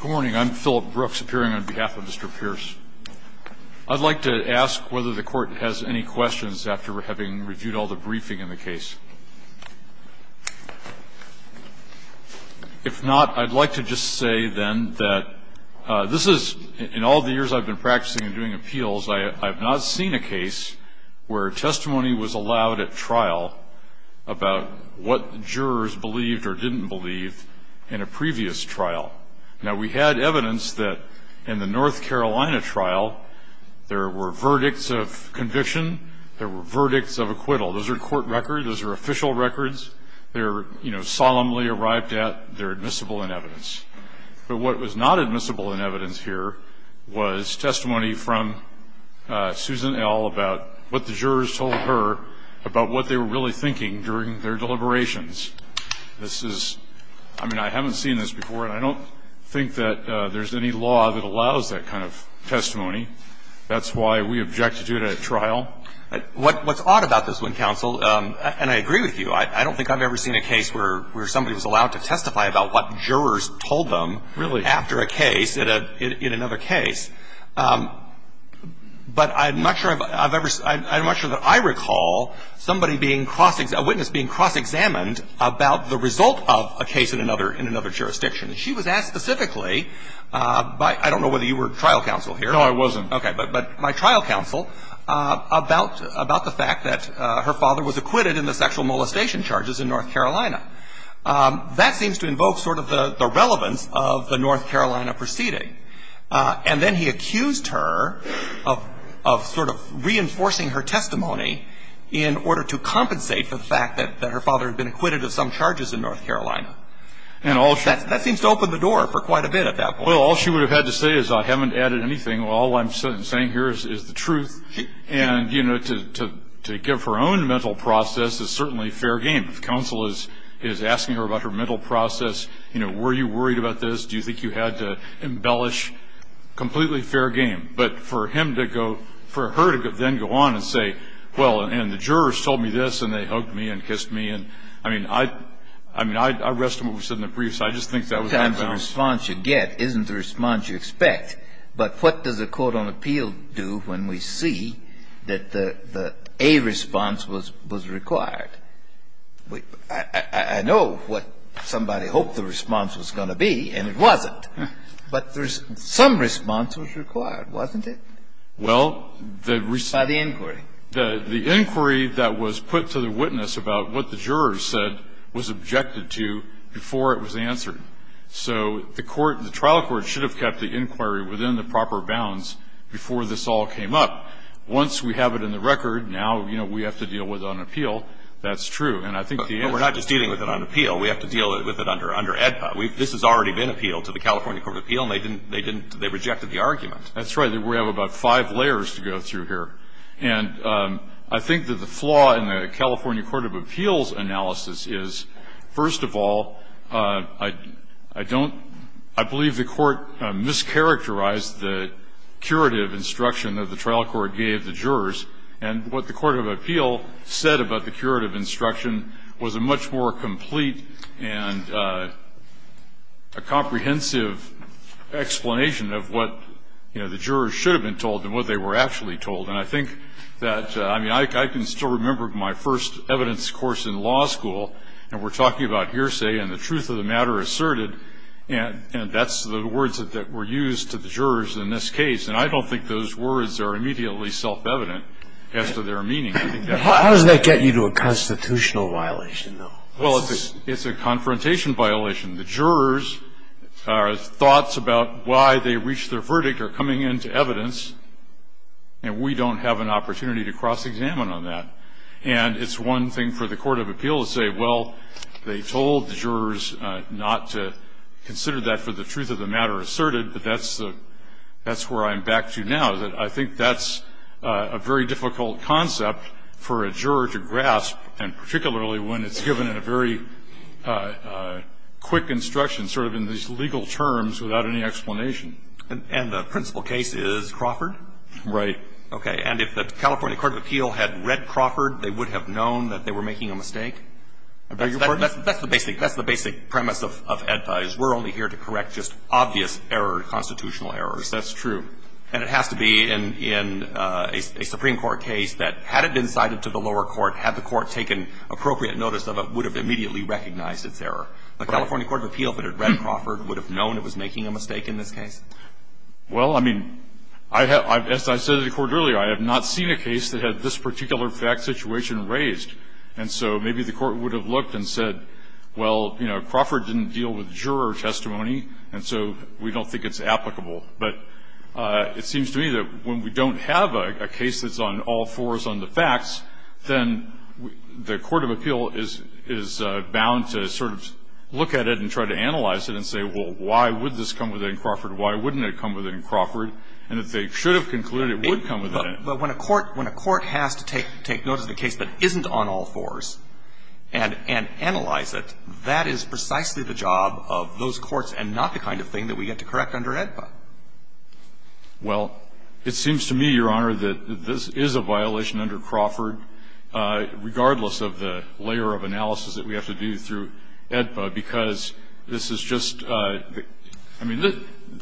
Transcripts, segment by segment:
Good morning I'm Philip Brooks appearing on behalf of Mr. Pierce. I'd like to ask whether the court has any questions after having reviewed all the briefing in the case. If not I'd like to just say then that this is in all the years I've been practicing and doing appeals I have not seen a case where testimony was allowed at trial about what jurors believed or didn't believe in a previous trial. Now we had evidence that in the North Carolina trial there were verdicts of conviction, there were verdicts of acquittal. Those are court records, those are official records, they're you know solemnly arrived at, they're admissible in evidence. But what was not admissible in evidence here was testimony from Susan L about what the jurors told her about what they were really thinking during their deliberations. This is, I mean I haven't seen this before and I don't think that there's any law that allows that kind of testimony. That's why we object to it at trial. What's odd about this one counsel, and I agree with you, I don't think I've ever seen a case where somebody was allowed to testify about what jurors told them after a case in another case. But I'm not sure I've ever, I'm not sure that I recall somebody being cross, a witness being cross examined about the result of a case in another, in another jurisdiction. She was asked specifically by, I don't know whether you were trial counsel here. No I wasn't. Okay, but my trial counsel about the fact that her father was acquitted in the sexual molestation charges in North Carolina. That seems to invoke sort of the relevance of the North Carolina proceeding. And then he accused her of sort of her testimony in order to compensate for the fact that her father had been acquitted of some charges in North Carolina. And all she That seems to open the door for quite a bit at that point. Well all she would have had to say is I haven't added anything. All I'm saying here is the truth. And you know to give her own mental process is certainly fair game. If counsel is asking her about her mental process, you know were you worried about this? Do you think you had to embellish? Completely fair game. But for him to go, for her to then go on and say, well, and the jurors told me this and they hugged me and kissed me and, I mean, I, I mean, I rest on what was said in the briefs. I just think that was unbalanced. The response you get isn't the response you expect. But what does a court on appeal do when we see that the, the A response was, was required? I, I know what somebody hoped the response was going to be, and it wasn't. But there's, some response was required, wasn't it? Well, the response By the inquiry. The, the inquiry that was put to the witness about what the jurors said was objected to before it was answered. So the court, the trial court should have kept the inquiry within the proper bounds before this all came up. Once we have it in the record, now, you know, we have to deal with it on appeal. That's true. And I think the answer is But we're not just dealing with it on appeal. We have to deal with it under, under AEDPA. We've, this has already been appealed to the California Court of Appeal and they didn't, they didn't, they rejected the argument. That's right. We have about five layers to go through here. And I think that the flaw in the California Court of Appeals analysis is, first of all, I, I don't, I believe the court mischaracterized the curative instruction that the trial court gave the jurors. And what the Court of Appeal said about the curative instruction was a much more complete and a comprehensive explanation of what, you know, the jurors should have been told and what they were actually told. And I think that, I mean, I can still remember my first evidence course in law school, and we're talking about hearsay and the truth of the matter asserted, and that's the words that were used to the jurors in this case. And I don't think those words are immediately self-evident as to their meaning. How does that get you to a constitutional violation, though? Well, it's, it's a confrontation violation. The jurors' thoughts about why they reached their verdict are coming into evidence, and we don't have an opportunity to cross-examine on that. And it's one thing for the Court of Appeal to say, well, they told the jurors not to consider that for the truth of the matter asserted, but that's the, that's where I'm back to now, that I think that's a very difficult concept for a juror to grasp, and particularly when it's given in a very quick instruction, sort of in these legal terms without any explanation. And the principal case is Crawford? Right. Okay. And if the California Court of Appeal had read Crawford, they would have known that they were making a mistake? That's the basic, that's the basic premise of EDPA, is we're only here to correct just obvious error, constitutional errors. That's true. And it has to be in, in a Supreme Court case that, had it been cited to the lower court, had the court taken appropriate notice of it, would have immediately recognized its error. The California Court of Appeal, if it had read Crawford, would have known it was making a mistake in this case? Well, I mean, I have, as I said to the Court earlier, I have not seen a case that had this particular fact situation raised. And so maybe the Court would have looked and said, well, you know, Crawford didn't deal with juror testimony, and so we don't think it's applicable. But it seems to me that when we don't have a case that's on all fours on the facts, then the Court of Appeal is, is bound to sort of look at it and try to analyze it and say, well, why would this come within Crawford? Why wouldn't it come within Crawford? And if they should have concluded it would come within it. But when a court, when a court has to take, take notice of a case that isn't on all fours and, and analyze it, that is precisely the job of those courts and not the kind of thing that we get to correct under AEDPA. Well, it seems to me, Your Honor, that this is a violation under Crawford, regardless of the layer of analysis that we have to do through AEDPA, because this is just a, I mean, this,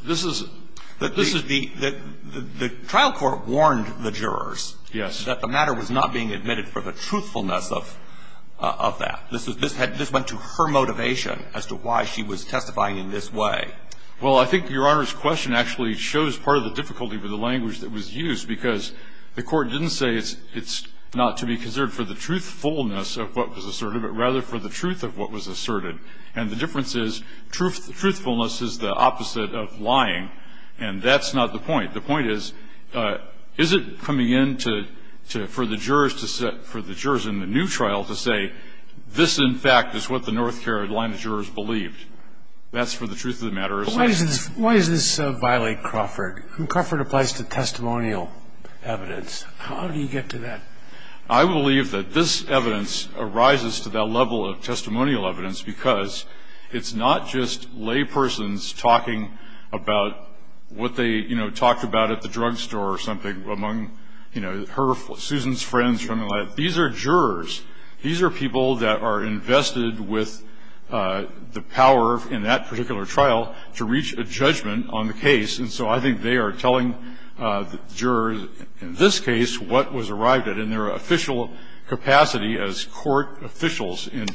this is, this is the, the, the trial court warned the jurors. Yes. That the matter was not being admitted for the truthfulness of, of that. This is, this had, this went to her motivation as to why she was testifying in this way. Well, I think Your Honor's question actually shows part of the difficulty with the language that was used, because the court didn't say it's, it's not to be considered for the truthfulness of what was asserted, but rather for the truth of what was asserted. And the difference is truth, truthfulness is the opposite of lying. And that's not the point. The point is, is it coming in to, to, for the jurors to set, for the jurors in the new trial to say, this, in fact, is what the North Carolina jurors believed? That's for the truth of the matter. Why does this, why does this violate Crawford? Crawford applies to testimonial evidence. How do you get to that? I believe that this evidence arises to that level of testimonial evidence, because it's not just laypersons talking about what they, you know, talked about at the drug store or something among, you know, her, Susan's friends from, these are jurors. These are people that are invested with the power in that particular trial to reach a judgment on the case, and so I think they are telling the jurors in this case what was arrived at in their official capacity as court officials and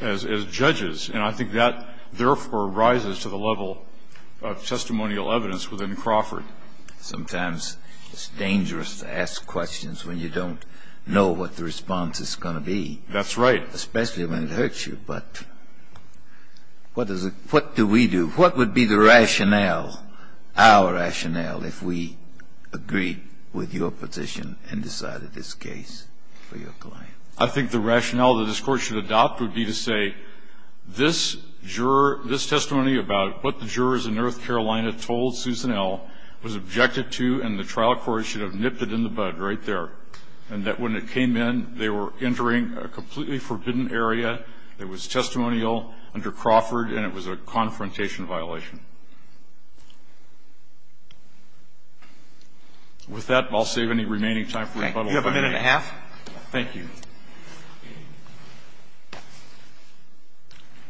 as, as judges. And I think that, therefore, rises to the level of testimonial evidence within Crawford. Sometimes it's dangerous to ask questions when you don't know what the response is going to be. That's right. Especially when it hurts you, but what does it, what do we do? What would be the rationale, our rationale, if we agreed with your position and decided this case for your client? I think the rationale that this Court should adopt would be to say, this juror, this testimony about what the jurors in North Carolina told Susan L. was objected to, and the trial court should have nipped it in the bud right there, and that when it came in, they were entering a completely forbidden area that was testimonial under Crawford, and it was a confrontation violation. With that, I'll save any remaining time for rebuttal. You have a minute and a half. Thank you.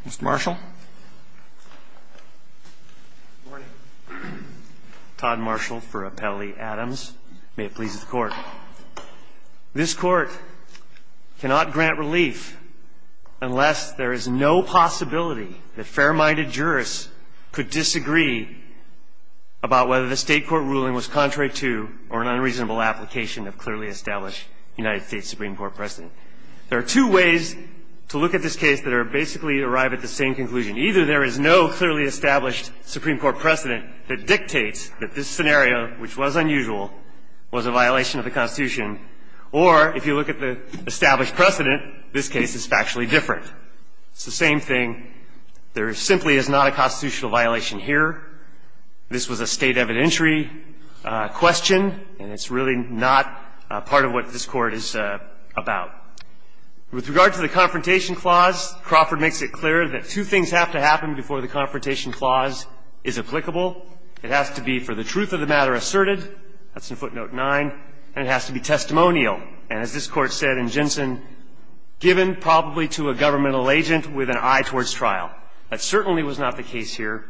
Mr. Marshall. Good morning. Todd Marshall for Appellee Adams. May it please the Court. This Court cannot grant relief unless there is no possibility that fair-minded jurors could disagree about whether the State court ruling was contrary to or an unreasonable application of clearly established United States Supreme Court precedent. There are two ways to look at this case that are basically arrive at the same conclusion. Either there is no clearly established Supreme Court precedent that dictates that this scenario, which was unusual, was a violation of the Constitution, or if you look at the established precedent, this case is factually different. It's the same thing. There simply is not a constitutional violation here. This was a State evidentiary question, and it's really not part of what this Court is about. With regard to the Confrontation Clause, Crawford makes it clear that two things have to happen before the Confrontation Clause is applicable. It has to be, for the truth of the matter asserted, that's in footnote 9, and it has to be testimonial, and as this Court said in Jensen, given probably to a governmental agent with an eye towards trial. That certainly was not the case here.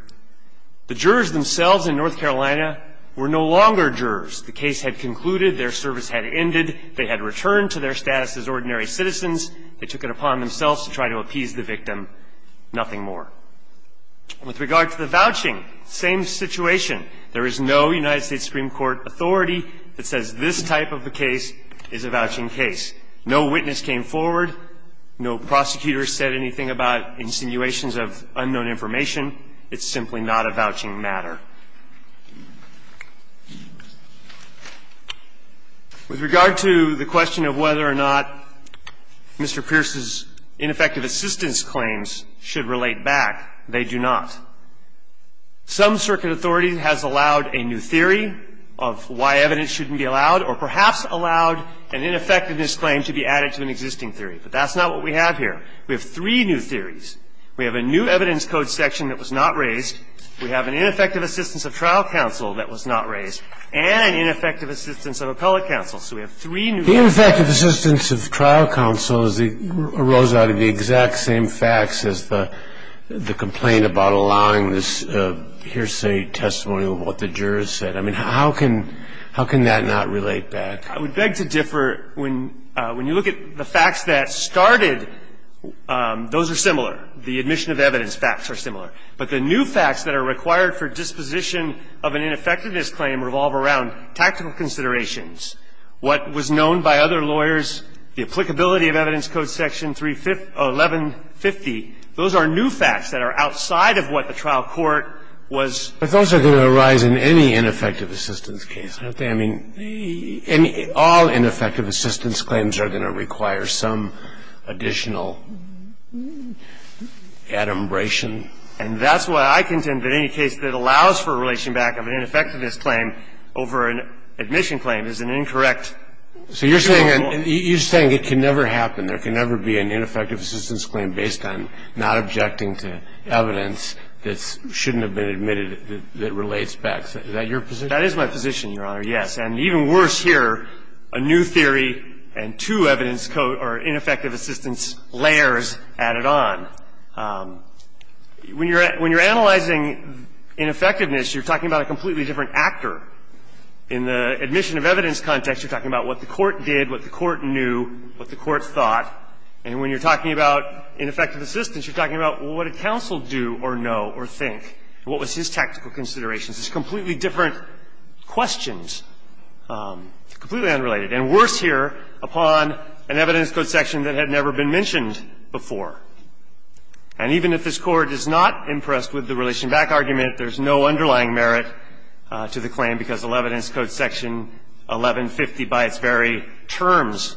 The jurors themselves in North Carolina were no longer jurors. The case had concluded. Their service had ended. They had returned to their status as ordinary citizens. They took it upon themselves to try to appease the victim. Nothing more. With regard to the vouching, same situation. There is no United States Supreme Court authority that says this type of a case is a vouching case. No witness came forward. No prosecutor said anything about insinuations of unknown information. It's simply not a vouching matter. With regard to the question of whether or not Mr. Pierce's ineffective assistance claims should relate back, they do not. Some circuit authority has allowed a new theory of why evidence shouldn't be allowed or perhaps allowed an ineffectiveness claim to be added to an existing theory. But that's not what we have here. We have three new theories. We have a new evidence code section that was not raised. We have an ineffective assistance of trial counsel that was not raised and an ineffective assistance of appellate counsel. So we have three new theories. The ineffective assistance of trial counsel arose out of the exact same facts as the complaint about allowing this hearsay testimony of what the jurors said. I mean, how can that not relate back? I would beg to differ. When you look at the facts that started, those are similar. The admission of evidence facts are similar. But the new facts that are required for disposition of an ineffectiveness claim revolve around tactical considerations, what was known by other lawyers, the applicability of evidence code section 31150. Those are new facts that are outside of what the trial court was raising. And they're not going to arise in any ineffective assistance case, are they? I mean, any – all ineffective assistance claims are going to require some additional adumbration. And that's why I contend that any case that allows for a relation back of an ineffectiveness claim over an admission claim is an incorrect jurable – So you're saying it can never happen. There can never be an ineffective assistance claim based on not objecting to evidence that shouldn't have been admitted that relates back. Is that your position? That is my position, Your Honor, yes. And even worse here, a new theory and two evidence – or ineffective assistance layers added on. When you're analyzing ineffectiveness, you're talking about a completely different actor. In the admission of evidence context, you're talking about what the court did, what the court knew, what the court thought. And when you're talking about ineffective assistance, you're talking about, well, what did counsel do or know or think? What was his tactical considerations? It's completely different questions, completely unrelated. And worse here, upon an evidence code section that had never been mentioned before. And even if this Court is not impressed with the relation back argument, there's no underlying merit to the claim because the evidence code section 1150 by its very terms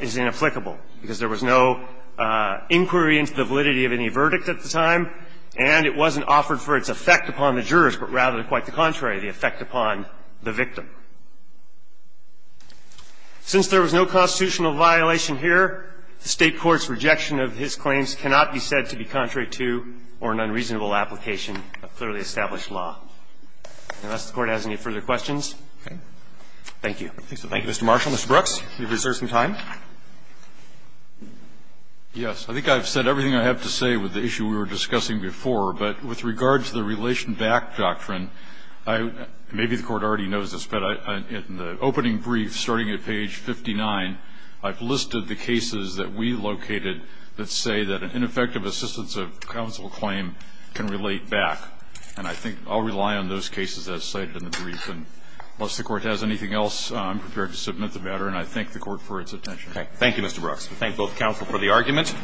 is inapplicable, because there was no inquiry into the validity of any verdict at the time, and it wasn't offered for its effect upon the jurors, but rather quite the contrary, the effect upon the victim. Since there was no constitutional violation here, the State court's rejection of his claims cannot be said to be contrary to or an unreasonable application of clearly established law. Unless the Court has any further questions. Thank you. Thank you, Mr. Marshall. Mr. Brooks, you've reserved some time. Yes, I think I've said everything I have to say with the issue we were discussing before, but with regard to the relation back doctrine, maybe the Court already knows this, but in the opening brief, starting at page 59, I've listed the cases that we located that say that an ineffective assistance of counsel claim can relate back, and I think I'll rely on those cases as cited in the brief. And unless the Court has anything else, I'm prepared to submit the matter, and I Thank you, Mr. Brooks. We thank both counsel for the argument.